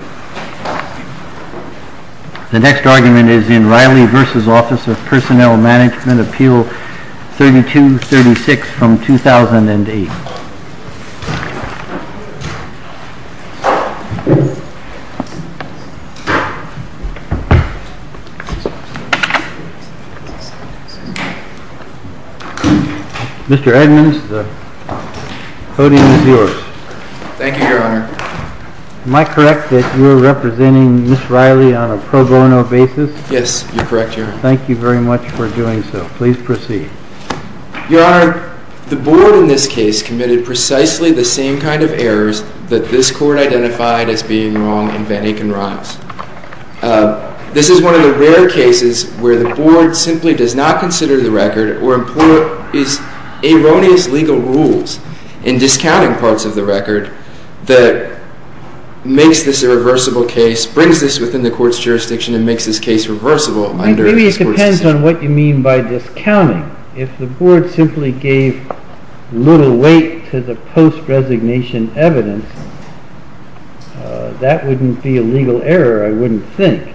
Appeal 3236, 2008. Mr. Edmonds, the podium is yours. Thank you, Your Honor. Am I correct that you are representing Ms. Reilly on a pro bono basis? Yes, you're correct, Your Honor. Thank you very much for doing so. Please proceed. Your Honor, the board in this case committed precisely the same kind of errors that this court identified as being wrong in Van Aken Rocks. This is one of the rare cases where the board simply does not consider the record or employs erroneous legal rules in discounting parts of the record that makes this a reversible case, brings this within the court's jurisdiction, and makes this case reversible under this court's decision. Based on what you mean by discounting, if the board simply gave little weight to the post-resignation evidence, that wouldn't be a legal error, I wouldn't think.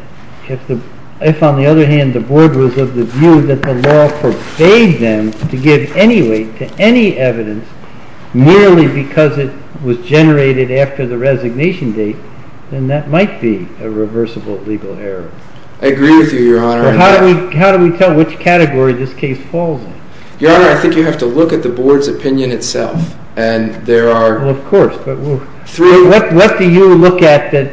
If, on the other hand, the board was of the view that the law forbade them to give any weight to any evidence merely because it was generated after the resignation date, then that might be a reversible legal error. I agree with you, Your Honor. How do we tell which category this case falls in? Your Honor, I think you have to look at the board's opinion itself. Of course. What do you look at that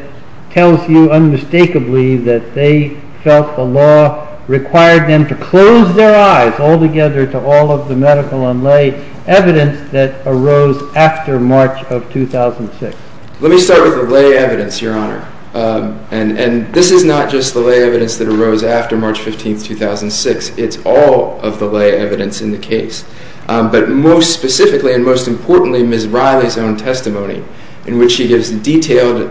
tells you unmistakably that they felt the law required them to close their eyes altogether to all of the medical and lay evidence that arose after March of 2006? Let me start with the lay evidence, Your Honor. And this is not just the lay evidence that arose after March 15, 2006. It's all of the lay evidence in the case. But most specifically and most importantly, Ms. Riley's own testimony, in which she gives detailed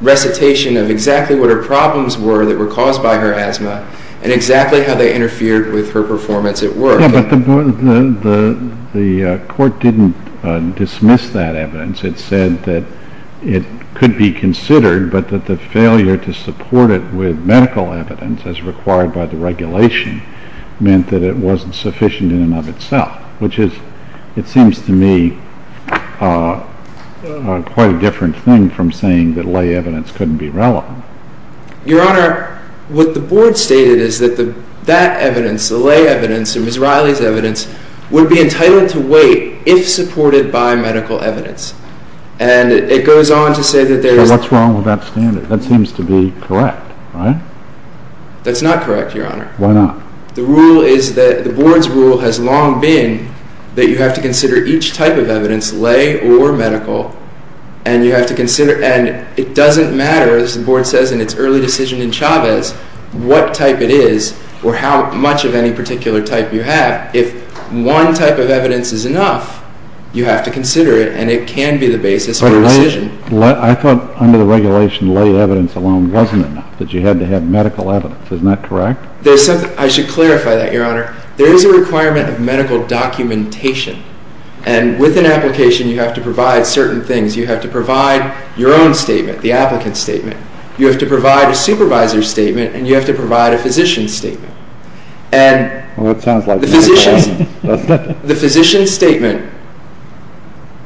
recitation of exactly what her problems were that were caused by her asthma and exactly how they interfered with her performance at work. Yeah, but the court didn't dismiss that evidence. It said that it could be considered, but that the failure to support it with medical evidence as required by the regulation meant that it wasn't sufficient in and of itself, which is, it seems to me, quite a different thing from saying that lay evidence couldn't be relevant. Your Honor, what the board stated is that that evidence, the lay evidence, and Ms. Riley's evidence, would be entitled to wait if supported by medical evidence. And it goes on to say that there is… So what's wrong with that standard? That seems to be correct, right? That's not correct, Your Honor. Why not? The rule is that the board's rule has long been that you have to consider each type of evidence, lay or medical, and you have to consider, and it doesn't matter, as the board says in its early decision in Chavez, what type it is or how much of any particular type you have. If one type of evidence is enough, you have to consider it, and it can be the basis for a decision. I thought under the regulation lay evidence alone wasn't enough, that you had to have medical evidence. Isn't that correct? I should clarify that, Your Honor. There is a requirement of medical documentation. And with an application, you have to provide certain things. You have to provide your own statement, the applicant's statement. You have to provide a supervisor's statement, and you have to provide a physician's statement. And the physician's statement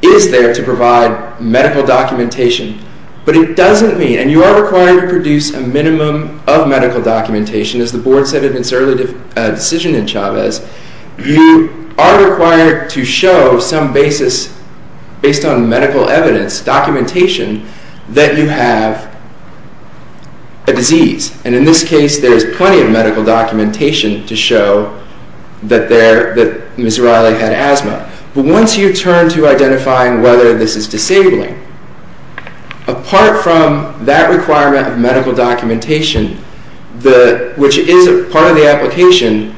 is there to provide medical documentation, but it doesn't mean… And you are required to produce a minimum of medical documentation. As the board said in its early decision in Chavez, you are required to show some basis based on medical evidence, documentation, that you have a disease. And in this case, there is plenty of medical documentation to show that Ms. Riley had asthma. But once you turn to identifying whether this is disabling, apart from that requirement of medical documentation, which is part of the application,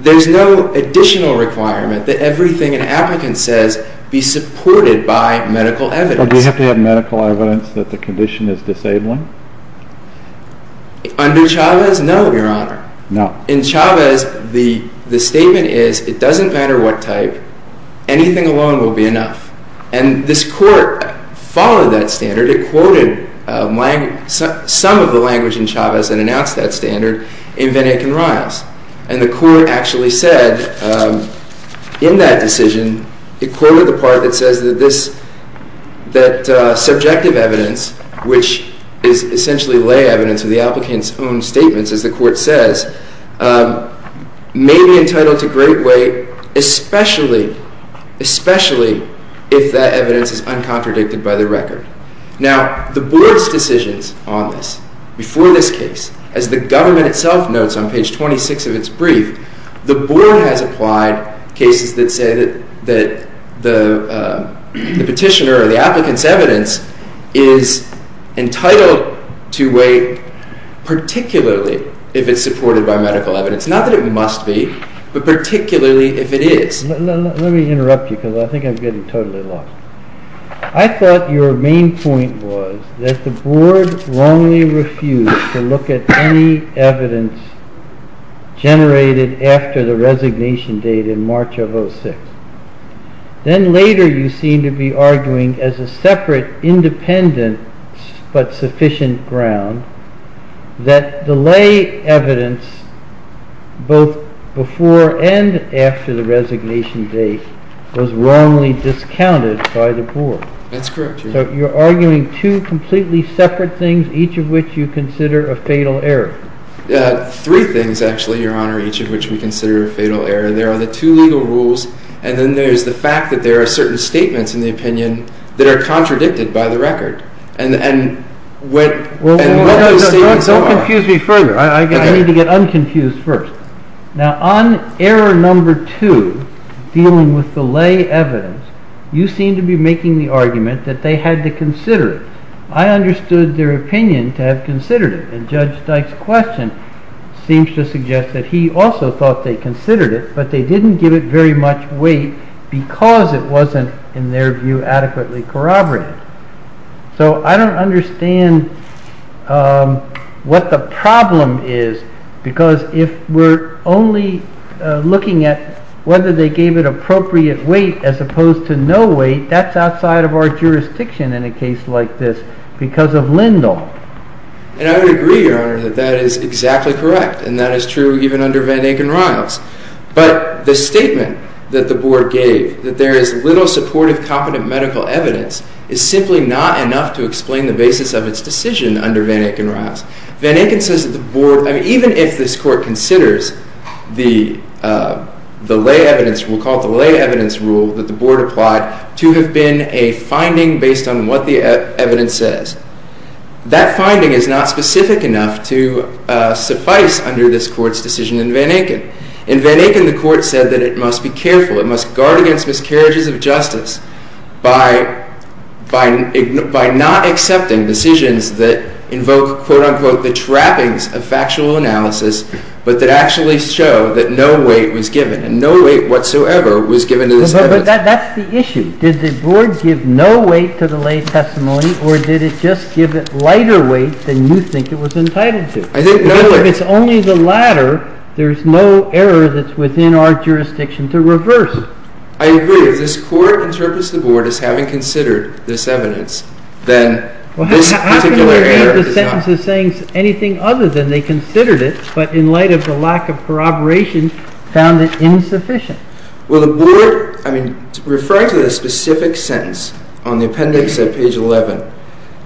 there is no additional requirement that everything an applicant says be supported by medical evidence. Do you have to have medical evidence that the condition is disabling? Under Chavez, no, Your Honor. No. In Chavez, the statement is, it doesn't matter what type, anything alone will be enough. And this court followed that standard. It quoted some of the language in Chavez and announced that standard in Van Aken Riles. And the court actually said in that decision, it quoted the part that says that subjective evidence, which is essentially lay evidence of the applicant's own statements, as the court says, may be entitled to great weight, especially if that evidence is uncontradicted by the record. Now, the board's decisions on this, before this case, as the government itself notes on page 26 of its brief, the board has applied cases that say that the petitioner or the applicant's evidence is entitled to weight, particularly if it's supported by medical evidence. Not that it must be, but particularly if it is. Let me interrupt you, because I think I'm getting totally lost. I thought your main point was that the board wrongly refused to look at any evidence generated after the resignation date in March of 2006. Then later, you seem to be arguing as a separate, independent, but sufficient ground, that the lay evidence, both before and after the resignation date, was wrongly discounted by the board. That's correct, Your Honor. So you're arguing two completely separate things, each of which you consider a fatal error. Three things, actually, Your Honor, each of which we consider a fatal error. There are the two legal rules, and then there's the fact that there are certain statements in the opinion that are contradicted by the record. Don't confuse me further. I need to get unconfused first. Now, on error number two, dealing with the lay evidence, you seem to be making the argument that they had to consider it. I understood their opinion to have considered it, and Judge Dyke's question seems to suggest that he also thought they considered it, but they didn't give it very much weight because it wasn't, in their view, adequately corroborated. So I don't understand what the problem is, because if we're only looking at whether they gave it appropriate weight as opposed to no weight, that's outside of our jurisdiction in a case like this because of Lindahl. And I would agree, Your Honor, that that is exactly correct, and that is true even under Van Danken-Riles. But the statement that the Board gave, that there is little supportive, competent medical evidence, is simply not enough to explain the basis of its decision under Van Danken-Riles. Van Danken says that the Board, even if this Court considers the lay evidence, we'll call it the lay evidence rule that the Board applied, to have been a finding based on what the evidence says, that finding is not specific enough to suffice under this Court's decision in Van Danken. In Van Danken, the Court said that it must be careful, it must guard against miscarriages of justice, by not accepting decisions that invoke, quote-unquote, the trappings of factual analysis, but that actually show that no weight was given, and no weight whatsoever was given to this evidence. But that's the issue. Did the Board give no weight to the lay testimony, or did it just give it lighter weight than you think it was entitled to? If it's only the latter, there's no error that's within our jurisdiction to reverse. I agree. If this Court interprets the Board as having considered this evidence, then this particular error is not. How can the Board be of the sentence of saying anything other than they considered it, but in light of the lack of corroboration, found it insufficient? Well, the Board, I mean, referring to the specific sentence on the appendix at page 11,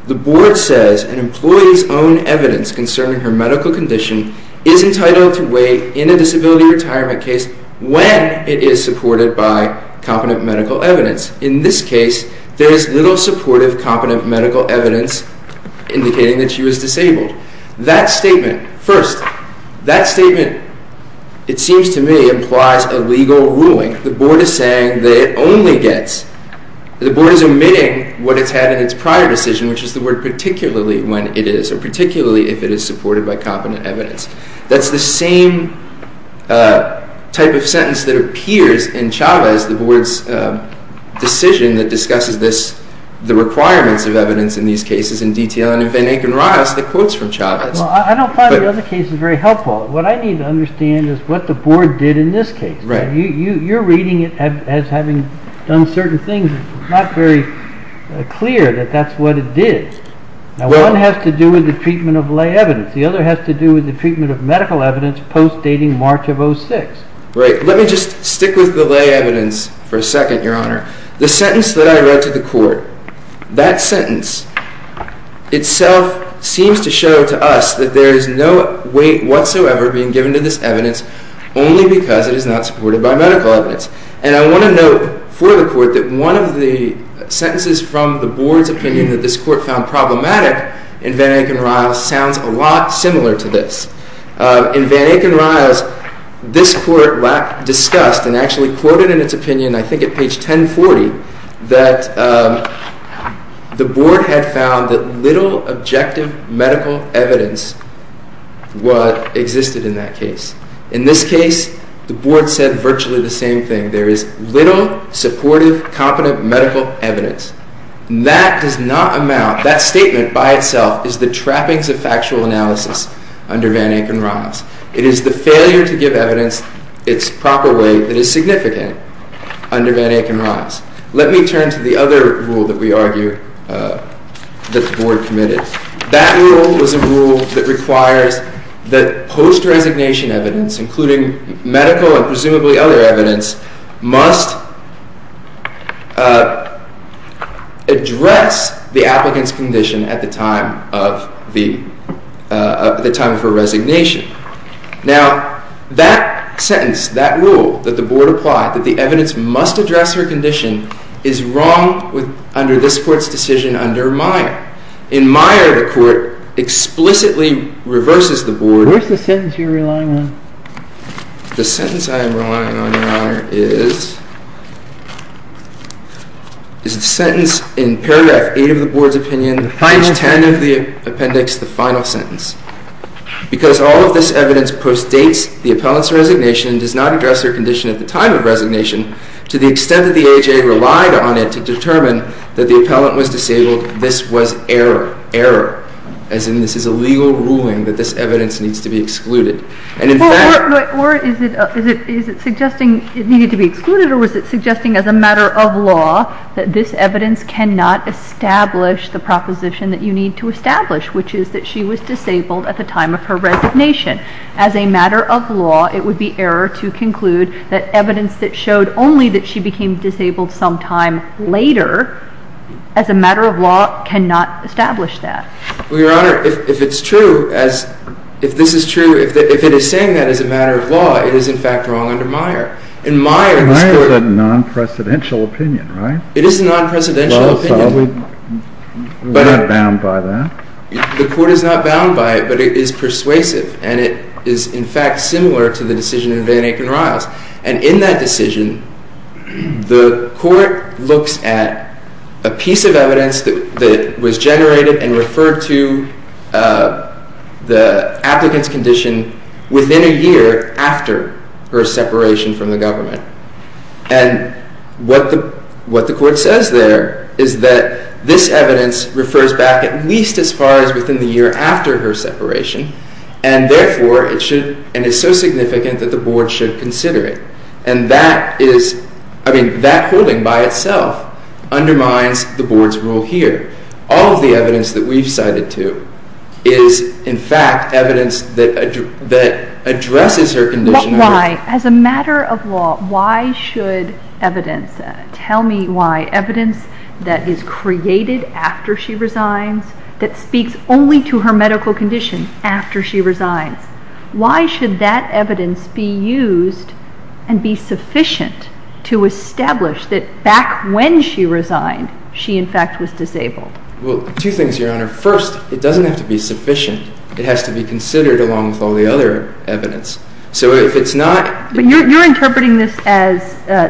the Board says an employee's own evidence concerning her medical condition is entitled to weigh in a disability retirement case when it is supported by competent medical evidence. In this case, there is little supportive competent medical evidence indicating that she was disabled. That statement, first, that statement, it seems to me, implies a legal ruling. The Board is saying that it only gets, the Board is omitting what it's had in its prior decision, which is the word particularly when it is, or particularly if it is supported by competent evidence. That's the same type of sentence that appears in Chavez, the Board's decision that discusses this, the requirements of evidence in these cases in detail. And in Van Aken-Rajas, the quotes from Chavez. Well, I don't find the other cases very helpful. What I need to understand is what the Board did in this case. Right. You're reading it as having done certain things. It's not very clear that that's what it did. Now, one has to do with the treatment of lay evidence. The other has to do with the treatment of medical evidence post-dating March of 06. Right. Let me just stick with the lay evidence for a second, Your Honor. The sentence that I read to the Court, that sentence itself seems to show to us that there is no weight whatsoever being given to this evidence only because it is not supported by medical evidence. And I want to note for the Court that one of the sentences from the Board's opinion that this Court found problematic in Van Aken-Rajas sounds a lot similar to this. In Van Aken-Rajas, this Court discussed and actually quoted in its opinion, I think at page 1040, that the Board had found that little objective medical evidence existed in that case. In this case, the Board said virtually the same thing. There is little supportive, competent medical evidence. That does not amount, that statement by itself is the trappings of factual analysis under Van Aken-Rajas. It is the failure to give evidence its proper way that is significant under Van Aken-Rajas. Let me turn to the other rule that we argue that the Board committed. That rule was a rule that requires that post-resignation evidence, including medical and presumably other evidence, must address the applicant's condition at the time of her resignation. Now, that sentence, that rule that the Board applied, that the evidence must address her condition, is wrong under this Court's decision under Meyer. In Meyer, the Court explicitly reverses the Board. Where is the sentence you are relying on? The sentence I am relying on, Your Honor, is the sentence in paragraph 8 of the Board's opinion, page 10 of the appendix, the final sentence. Because all of this evidence postdates the appellant's resignation and does not address her condition at the time of resignation, to the extent that the AHA relied on it to determine that the appellant was disabled, this was error. Error. As in this is a legal ruling that this evidence needs to be excluded. And in fact— Or is it suggesting it needed to be excluded or was it suggesting as a matter of law that this evidence cannot establish the proposition that you need to establish, which is that she was disabled at the time of her resignation? As a matter of law, it would be error to conclude that evidence that showed only that she became disabled sometime later, as a matter of law, cannot establish that. Well, Your Honor, if it's true, if this is true, if it is saying that as a matter of law, it is, in fact, wrong under Meyer. In Meyer— And Meyer is a non-presidential opinion, right? It is a non-presidential opinion. Well, so we're not bound by that. The Court is not bound by it, but it is persuasive. And it is, in fact, similar to the decision in Van Aken Riles. And in that decision, the Court looks at a piece of evidence that was generated and referred to the applicant's condition within a year after her separation from the government. And what the Court says there is that this evidence refers back at least as far as within the year after her separation, and therefore it should—and is so significant that the Board should consider it. And that is—I mean, that holding by itself undermines the Board's rule here. All of the evidence that we've cited, too, is, in fact, evidence that addresses her condition— Why, as a matter of law, why should evidence—tell me why— evidence that is created after she resigns, that speaks only to her medical condition after she resigns, why should that evidence be used and be sufficient to establish that back when she resigned, she, in fact, was disabled? Well, two things, Your Honor. First, it doesn't have to be sufficient. It has to be considered along with all the other evidence. So if it's not— But you're interpreting this as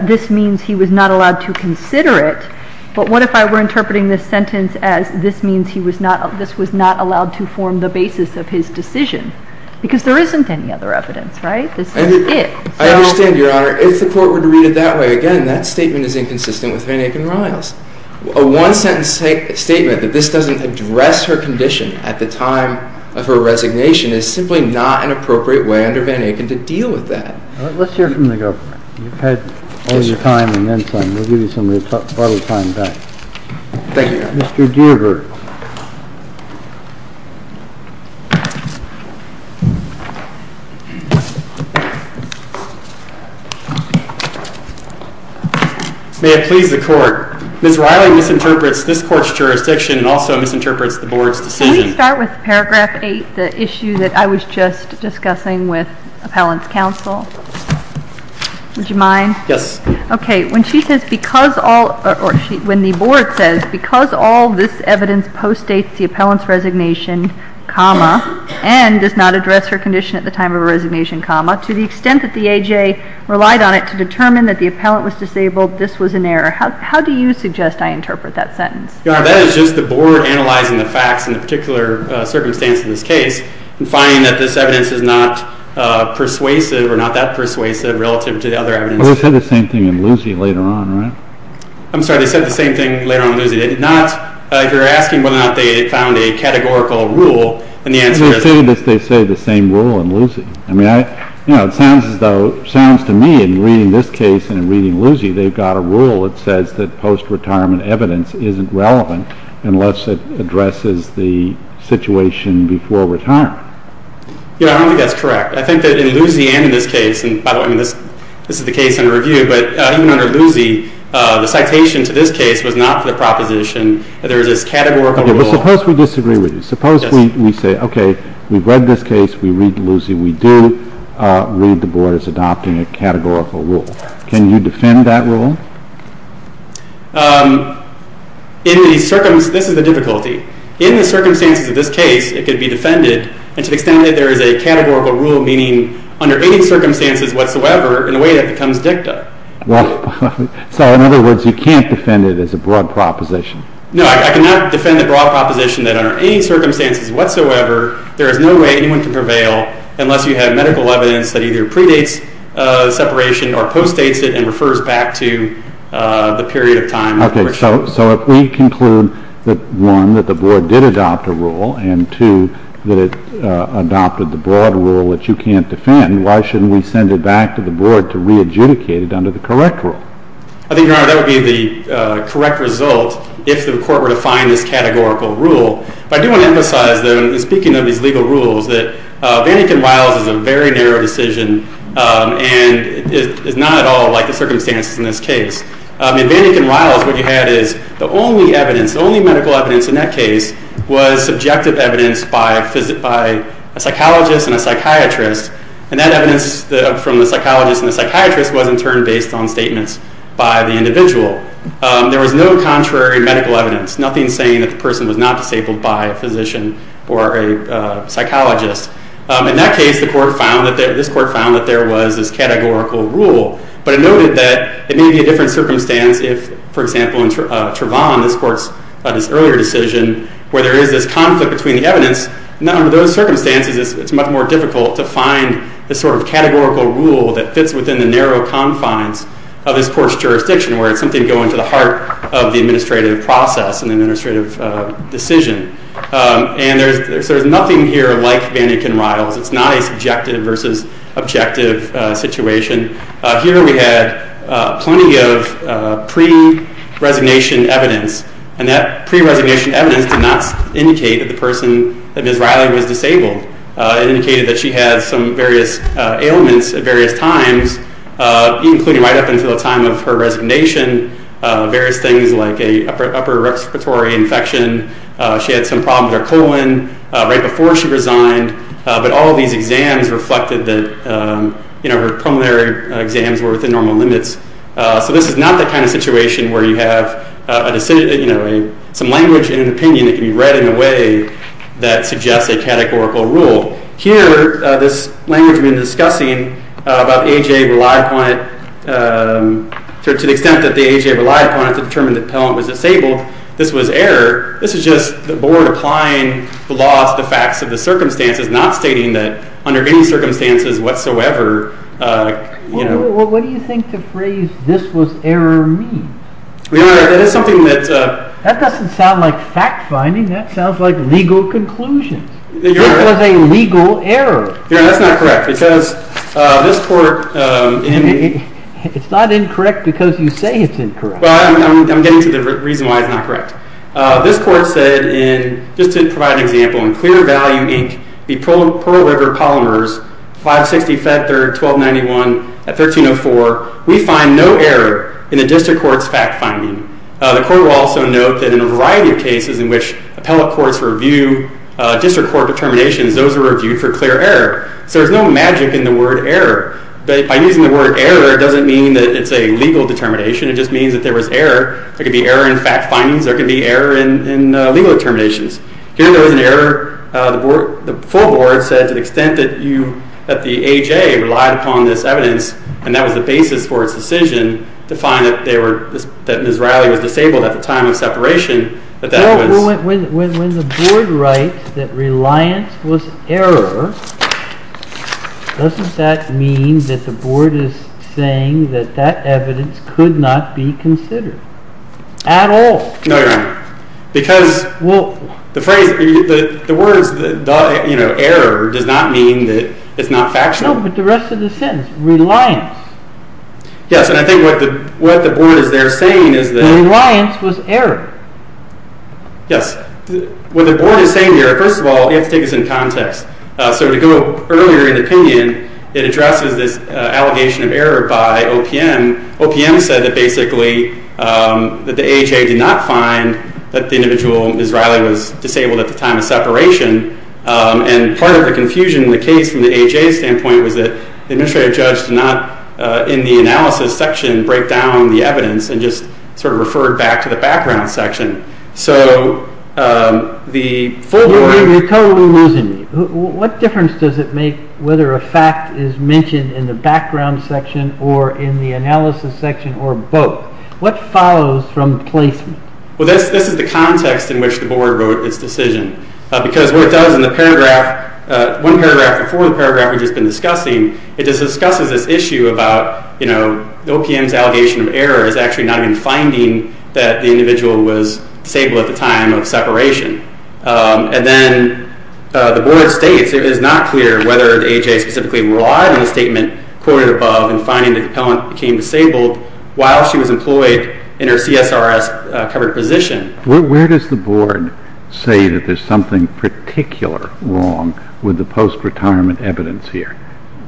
this means he was not allowed to consider it, but what if I were interpreting this sentence as this means he was not—this was not allowed to form the basis of his decision? Because there isn't any other evidence, right? This is it. I understand, Your Honor. If the Court were to read it that way, again, that statement is inconsistent with Van Aken-Riles. A one-sentence statement that this doesn't address her condition at the time of her resignation is simply not an appropriate way under Van Aken to deal with that. Let's hear from the government. You've had all your time and then some. We'll give you some of your time back. Thank you, Your Honor. Mr. Dierberg. May it please the Court. Ms. Riley misinterprets this Court's jurisdiction and also misinterprets the Board's decision. Can we start with Paragraph 8, the issue that I was just discussing with Appellant's Counsel? Would you mind? Yes. Okay. When she says, because all—or when the Board says, because all this evidence postdates the Appellant's resignation, comma, and does not address her condition at the time of her resignation, comma, to the extent that the A.J. relied on it to determine that the Appellant was disabled, this was an error. How do you suggest I interpret that sentence? Your Honor, that is just the Board analyzing the facts in the particular circumstance in this case and finding that this evidence is not persuasive or not that persuasive relative to the other evidence. Well, they said the same thing in Lucey later on, right? I'm sorry. They said the same thing later on in Lucey. They did not—if you're asking whether or not they found a categorical rule in the answer— They say the same rule in Lucey. I mean, you know, it sounds to me in reading this case and in reading Lucey, they've got a rule that says that post-retirement evidence isn't relevant unless it addresses the situation before retirement. Your Honor, I don't think that's correct. I think that in Lucey and in this case—and by the way, this is the case under review— but even under Lucey, the citation to this case was not for the proposition that there is this categorical rule. Okay, but suppose we disagree with you. Suppose we say, okay, we've read this case, we read Lucey, we do read the Board as adopting a categorical rule. Can you defend that rule? In the—this is the difficulty. In the circumstances of this case, it could be defended to the extent that there is a categorical rule meaning under any circumstances whatsoever in a way that becomes dicta. Well, so in other words, you can't defend it as a broad proposition. No, I cannot defend a broad proposition that under any circumstances whatsoever, there is no way anyone can prevail unless you have medical evidence that either predates separation or postdates it and refers back to the period of time— Okay, so if we conclude that, one, that the Board did adopt a rule, and two, that it adopted the broad rule that you can't defend, why shouldn't we send it back to the Board to re-adjudicate it under the correct rule? I think, Your Honor, that would be the correct result if the Court were to find this categorical rule. But I do want to emphasize, though, in speaking of these legal rules, that Vannikin-Riles is a very narrow decision and is not at all like the circumstances in this case. In Vannikin-Riles, what you had is the only evidence, the only medical evidence in that case was subjective evidence by a psychologist and a psychiatrist, and that evidence from the psychologist and the psychiatrist was in turn based on statements by the individual. There was no contrary medical evidence, nothing saying that the person was not disabled by a physician or a psychologist. In that case, this Court found that there was this categorical rule, but it noted that it may be a different circumstance if, for example, in Trevon, this Court's earlier decision, where there is this conflict between the evidence, under those circumstances it's much more difficult to find this sort of categorical rule that fits within the narrow confines of this Court's jurisdiction, where it's something going to the heart of the administrative process and the administrative decision. And there's nothing here like Vannikin-Riles. It's not a subjective versus objective situation. Here we had plenty of pre-resignation evidence, and that pre-resignation evidence did not indicate that the person, that Ms. Riley, was disabled. It indicated that she had some various ailments at various times, including right up until the time of her resignation, various things like an upper respiratory infection. She had some problems with her colon right before she resigned. But all of these exams reflected that her preliminary exams were within normal limits. So this is not the kind of situation where you have some language and an opinion that can be read in a way that suggests a categorical rule. Here, this language we've been discussing about age-abled, to the extent that the age-abled lied upon it to determine that the appellant was disabled. This was error. This is just the Board applying the law to the facts of the circumstances, not stating that under any circumstances whatsoever. What do you think the phrase, this was error, means? Your Honor, that is something that... That doesn't sound like fact-finding. That sounds like legal conclusions. This was a legal error. Your Honor, that's not correct, because this court... It's not incorrect because you say it's incorrect. I'm getting to the reason why it's not correct. This court said, just to provide an example, in Clear Value, Inc., the Pearl River Polymers, 560 Fed Third, 1291, 1304, we find no error in the district court's fact-finding. The court will also note that in a variety of cases in which appellate courts review district court determinations, those are reviewed for clear error. So there's no magic in the word error. By using the word error, it doesn't mean that it's a legal determination. It just means that there was error. There could be error in fact-findings. There could be error in legal determinations. Here there was an error. The full Board said to the extent that the AJ relied upon this evidence, and that was the basis for its decision, to find that Ms. Riley was disabled at the time of separation, When the Board writes that reliance was error, doesn't that mean that the Board is saying that that evidence could not be considered at all? No, Your Honor. Because the words error does not mean that it's not factual. No, but the rest of the sentence, reliance. Yes, and I think what the Board is there saying is that reliance was error. Yes. What the Board is saying here, first of all, you have to take this in context. So to go earlier in the opinion, it addresses this allegation of error by OPM. OPM said that basically that the AJ did not find that the individual, Ms. Riley, was disabled at the time of separation. And part of the confusion in the case from the AJ's standpoint was that the administrative judge did not, in the analysis section, break down the evidence and just sort of refer it back to the background section. So the full board... You're totally losing me. What difference does it make whether a fact is mentioned in the background section or in the analysis section or both? What follows from placement? Well, this is the context in which the Board wrote its decision. Because what it does in the paragraph, one paragraph before the paragraph we've just been discussing, it discusses this issue about, you know, OPM's allegation of error is actually not even finding that the individual was disabled at the time of separation. And then the Board states it is not clear whether the AJ specifically relied on the statement quoted above in finding that the appellant became disabled while she was employed in her CSRS-covered position. Where does the Board say that there's something particular wrong with the post-retirement evidence here?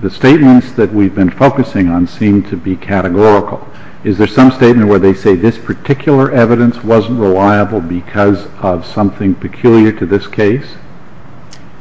The statements that we've been focusing on seem to be categorical. Is there some statement where they say this particular evidence wasn't reliable because of something peculiar to this case?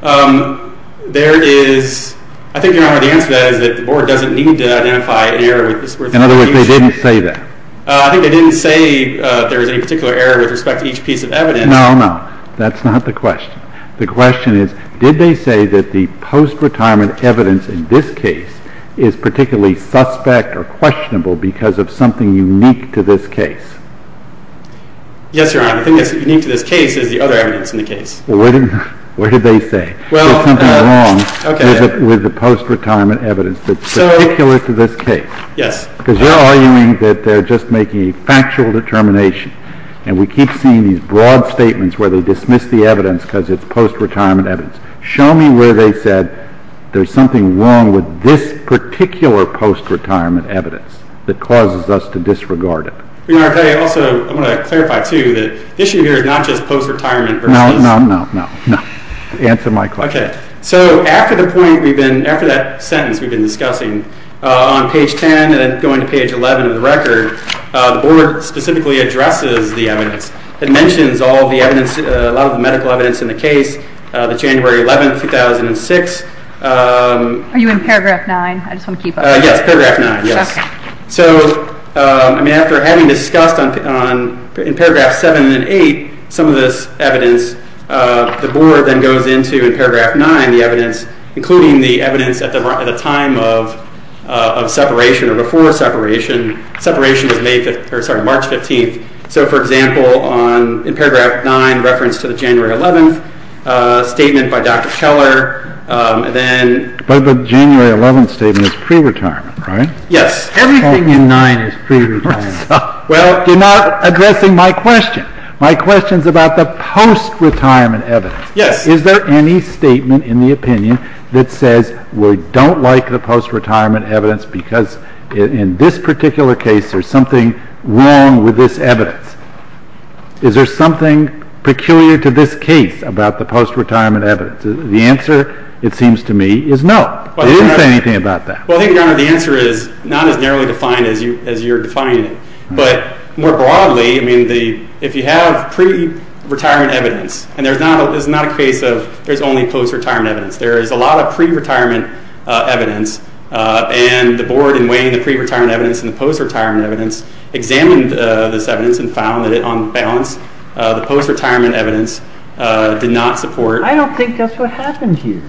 There is... I think the answer to that is that the Board doesn't need to identify an error... In other words, they didn't say that. I think they didn't say there was any particular error with respect to each piece of evidence. No, no. That's not the question. The question is, did they say that the post-retirement evidence in this case is particularly suspect or questionable because of something unique to this case? Yes, Your Honor. The thing that's unique to this case is the other evidence in the case. Well, what did they say? There's something wrong with the post-retirement evidence that's particular to this case. Yes. Because they're arguing that they're just making a factual determination. And we keep seeing these broad statements where they dismiss the evidence because it's post-retirement evidence. Show me where they said there's something wrong with this particular post-retirement evidence that causes us to disregard it. Your Honor, I also want to clarify, too, that the issue here is not just post-retirement versus... No, no, no. Answer my question. Okay. So after that sentence we've been discussing, on page 10 and then going to page 11 of the record, the Board specifically addresses the evidence that mentions a lot of the medical evidence in the case, the January 11, 2006... Are you in paragraph 9? I just want to keep up. Yes, paragraph 9, yes. So after having discussed in paragraph 7 and 8 some of this evidence, the Board then goes into, in paragraph 9, the evidence, including the evidence at the time of separation or before separation. Separation was March 15. So, for example, in paragraph 9, reference to the January 11 statement by Dr. Keller, and then... But the January 11 statement is pre-retirement, right? Yes. Everything in 9 is pre-retirement. Well, you're not addressing my question. My question is about the post-retirement evidence. Yes. Is there any statement in the opinion that says we don't like the post-retirement evidence because in this particular case there's something wrong with this evidence? Is there something peculiar to this case about the post-retirement evidence? The answer, it seems to me, is no. They didn't say anything about that. Well, I think, Your Honor, the answer is not as narrowly defined as you're defining it. But more broadly, I mean, if you have pre-retirement evidence, and there's not a case of there's only post-retirement evidence. There is a lot of pre-retirement evidence, and the Board, in weighing the pre-retirement evidence and the post-retirement evidence, examined this evidence and found that it, on balance, the post-retirement evidence did not support... I don't think that's what happened here.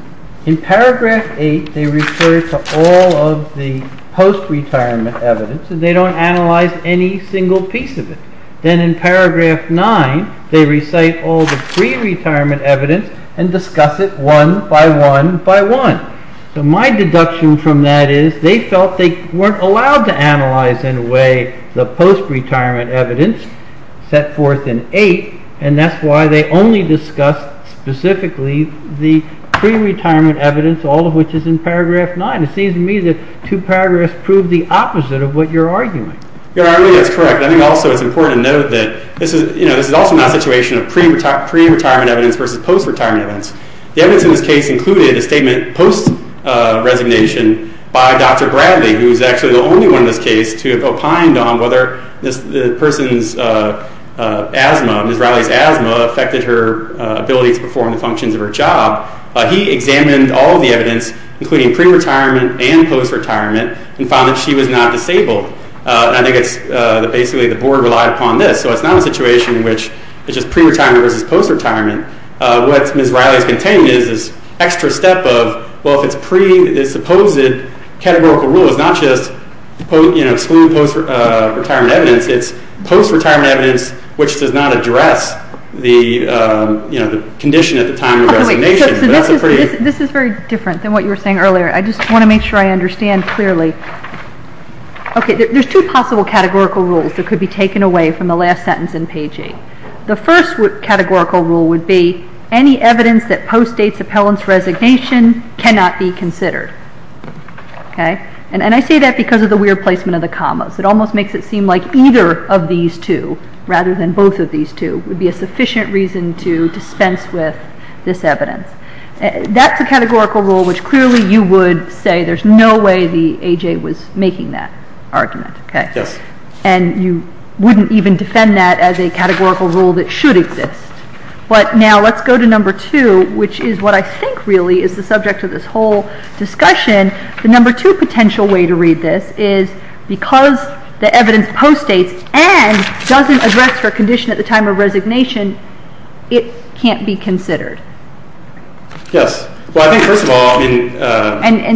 In paragraph 8, they refer to all of the post-retirement evidence, and they don't analyze any single piece of it. Then in paragraph 9, they recite all the pre-retirement evidence and discuss it one by one by one. So my deduction from that is they felt they weren't allowed to analyze in a way the post-retirement evidence set forth in 8, and that's why they only discussed specifically the pre-retirement evidence, all of which is in paragraph 9. It seems to me that 2 paragraphs prove the opposite of what you're arguing. Your Honor, I think that's correct. I think also it's important to note that this is also not a situation of pre-retirement evidence versus post-retirement evidence. The evidence in this case included a statement post-resignation by Dr. Bradley, who's actually the only one in this case to have opined on whether the person's asthma, Ms. Riley's asthma, affected her ability to perform the functions of her job. He examined all of the evidence, including pre-retirement and post-retirement, and found that she was not disabled. I think it's basically the board relied upon this, so it's not a situation in which it's just pre-retirement versus post-retirement. What Ms. Riley's containing is this extra step of, well, if it's pre, the supposed categorical rule is not just exclude post-retirement evidence, it's post-retirement evidence which does not address the condition at the time of resignation. This is very different than what you were saying earlier. I just want to make sure I understand clearly. Okay, there's two possible categorical rules that could be taken away from the last sentence in page 8. The first categorical rule would be any evidence that postdates appellant's resignation cannot be considered. And I say that because of the weird placement of the commas. It almost makes it seem like either of these two, rather than both of these two, would be a sufficient reason to dispense with this evidence. That's a categorical rule which clearly you would say there's no way the A.J. was making that argument. And you wouldn't even defend that as a categorical rule that should exist. But now let's go to number 2, which is what I think really is the subject of this whole discussion. The number 2 potential way to read this is because the evidence postdates and doesn't address her condition at the time of resignation, it can't be considered. Yes. Well, I think, first of all,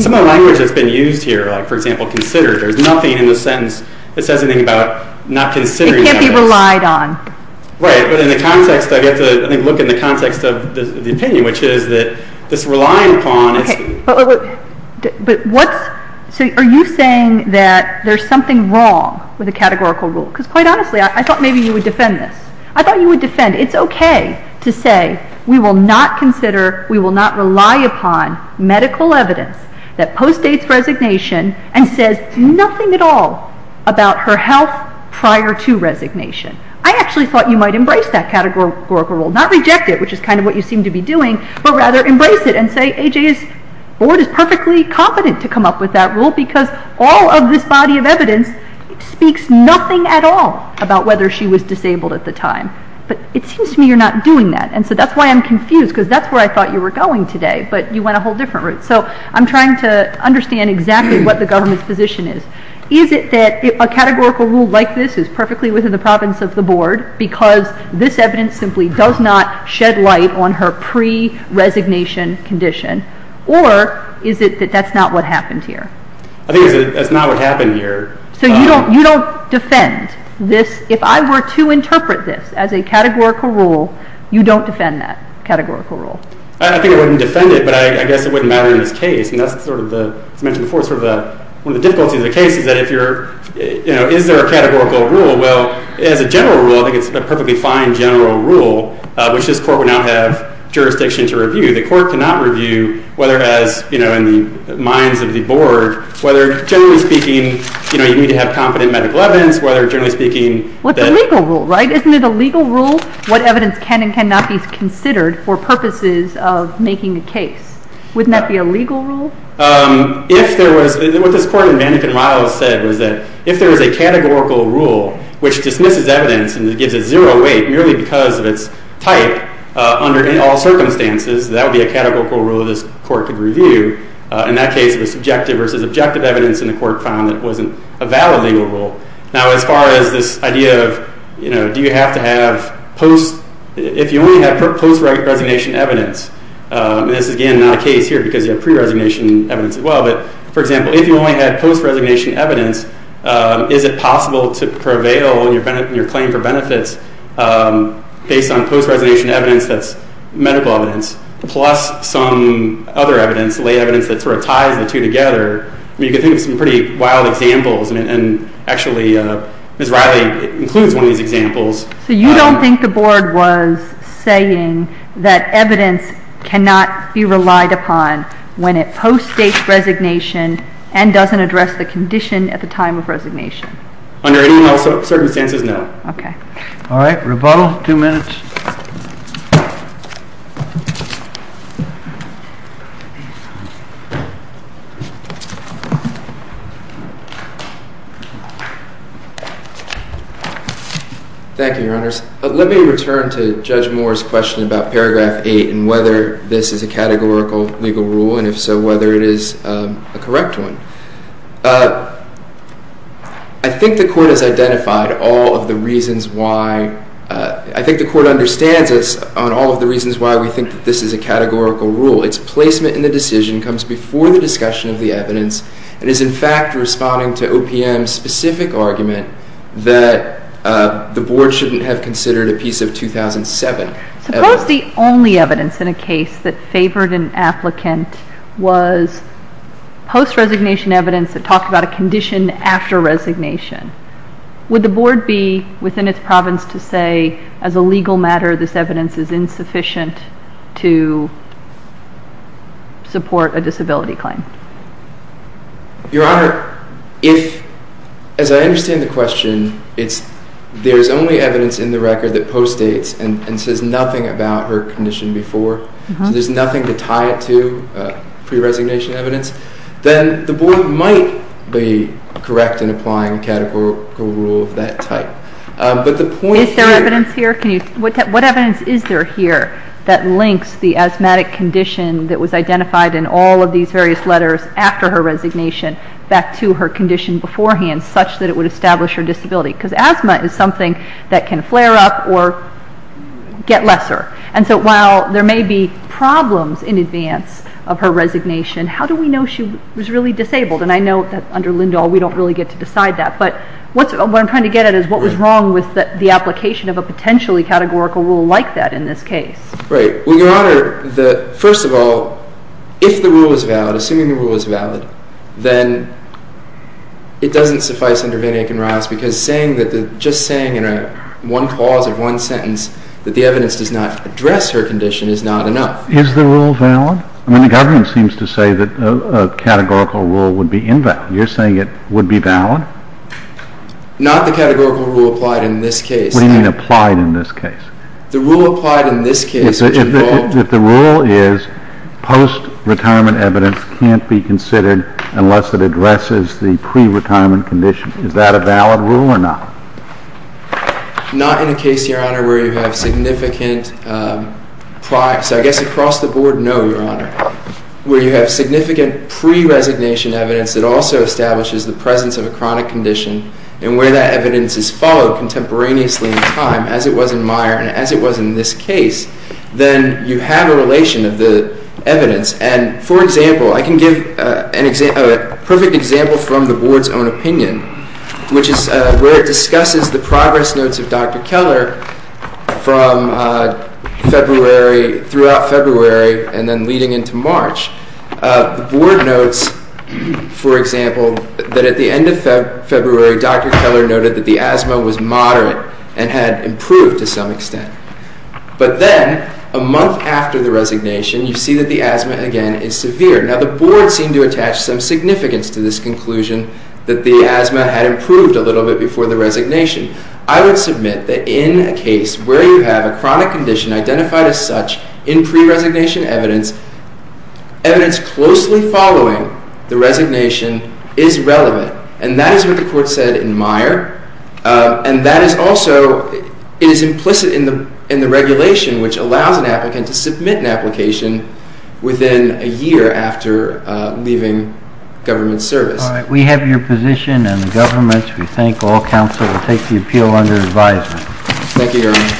some of the language that's been used here, like, for example, considered, there's nothing in the sentence that says anything about not considering the evidence. It can't be relied on. Right, but in the context, I think you have to look in the context of the opinion, which is that this relying upon is... But what's... So are you saying that there's something wrong with the categorical rule? Because, quite honestly, I thought maybe you would defend this. I thought you would defend. It's okay to say we will not consider, we will not rely upon medical evidence that postdates resignation and says nothing at all about her health prior to resignation. I actually thought you might embrace that categorical rule, not reject it, which is kind of what you seem to be doing, but rather embrace it and say, A.J.'s board is perfectly competent to come up with that rule because all of this body of evidence speaks nothing at all about whether she was disabled at the time. But it seems to me you're not doing that, and so that's why I'm confused because that's where I thought you were going today, but you went a whole different route. So I'm trying to understand exactly what the government's position is. Is it that a categorical rule like this is perfectly within the province of the board because this evidence simply does not shed light on her pre-resignation condition, or is it that that's not what happened here? I think that's not what happened here. So you don't defend this? If I were to interpret this as a categorical rule, you don't defend that categorical rule? I think I wouldn't defend it, but I guess it wouldn't matter in this case. As I mentioned before, one of the difficulties of the case is that if you're... Is there a categorical rule? Well, as a general rule, I think it's a perfectly fine general rule, which this court would now have jurisdiction to review. The court cannot review, whether as in the minds of the board, whether generally speaking, you need to have competent medical evidence, whether generally speaking... What's a legal rule, right? Isn't it a legal rule what evidence can and cannot be considered for purposes of making a case? Wouldn't that be a legal rule? If there was... What this court in Mandekin-Riles said was that if there was a categorical rule which dismisses evidence and gives it zero weight merely because of its type, under all circumstances, that would be a categorical rule this court could review. In that case, it was subjective versus objective evidence and the court found it wasn't a valid legal rule. Now, as far as this idea of, you know, do you have to have post... If you only have post-resignation evidence, and this is, again, not a case here because you have pre-resignation evidence as well, but, for example, if you only had post-resignation evidence, is it possible to prevail in your claim for benefits based on post-resignation evidence that's medical evidence plus some other evidence, lay evidence that sort of ties the two together? You could think of some pretty wild examples and actually Ms. Riley includes one of these examples. So you don't think the board was saying that evidence cannot be relied upon when it post-states resignation and doesn't address the condition at the time of resignation? Under any circumstances, no. Okay. All right, rebuttal. Two minutes. Thank you, Your Honors. Let me return to Judge Moore's question about Paragraph 8 and whether this is a categorical legal rule, and if so, whether it is a correct one. I think the Court has identified all of the reasons why... and it's not a categorical legal rule on all of the reasons why we think that this is a categorical rule. Its placement in the decision comes before the discussion of the evidence and is in fact responding to OPM's specific argument that the board shouldn't have considered a piece of 2007 evidence. Suppose the only evidence in a case that favored an applicant was post-resignation evidence that talked about a condition after resignation. Would the board be, within its province, to say, as a legal matter, this evidence is insufficient to support a disability claim? Your Honor, if, as I understand the question, there's only evidence in the record that post-dates and says nothing about her condition before, so there's nothing to tie it to, pre-resignation evidence, then the board might be correct in applying a categorical rule of that type. Is there evidence here? What evidence is there here that links the asthmatic condition that was identified in all of these various letters after her resignation back to her condition beforehand such that it would establish her disability? Because asthma is something that can flare up or get lesser. And so while there may be problems in advance of her resignation, how do we know she was really disabled? And I know that under Lindahl we don't really get to decide that, but what I'm trying to get at is what was wrong with the application of a potentially categorical rule like that in this case. Right. Well, Your Honor, first of all, if the rule is valid, assuming the rule is valid, then it doesn't suffice under Van Aken-Rise because just saying in one clause of one sentence that the evidence does not address her condition is not enough. Is the rule valid? I mean, the government seems to say that a categorical rule would be invalid. You're saying it would be valid? Not the categorical rule applied in this case. What do you mean, applied in this case? The rule applied in this case, which involved... If the rule is post-retirement evidence can't be considered unless it addresses the pre-retirement condition, is that a valid rule or not? Not in a case, Your Honor, where you have significant prior... So I guess across the board, no, Your Honor. Where you have significant pre-resignation evidence that also establishes the presence of a chronic condition and where that evidence is followed contemporaneously in time as it was in Meyer and as it was in this case, then you have a relation of the evidence. And, for example, I can give a perfect example from the board's own opinion, which is where it discusses the progress notes of Dr. Keller from February, throughout February, and then leading into March. The board notes, for example, that at the end of February, Dr. Keller noted that the asthma was moderate and had improved to some extent. But then, a month after the resignation, you see that the asthma again is severe. Now, the board seemed to attach some significance to this conclusion that the asthma had improved a little bit before the resignation. I would submit that in a case where you have a chronic condition identified as such in pre-resignation evidence, evidence closely following the resignation is relevant. And that is what the court said in Meyer. And that is also implicit in the regulation which allows an applicant to submit an application within a year after leaving government service. All right. We have your position and the government's. We thank all counsel to take the appeal under advisement. Thank you, Your Honor.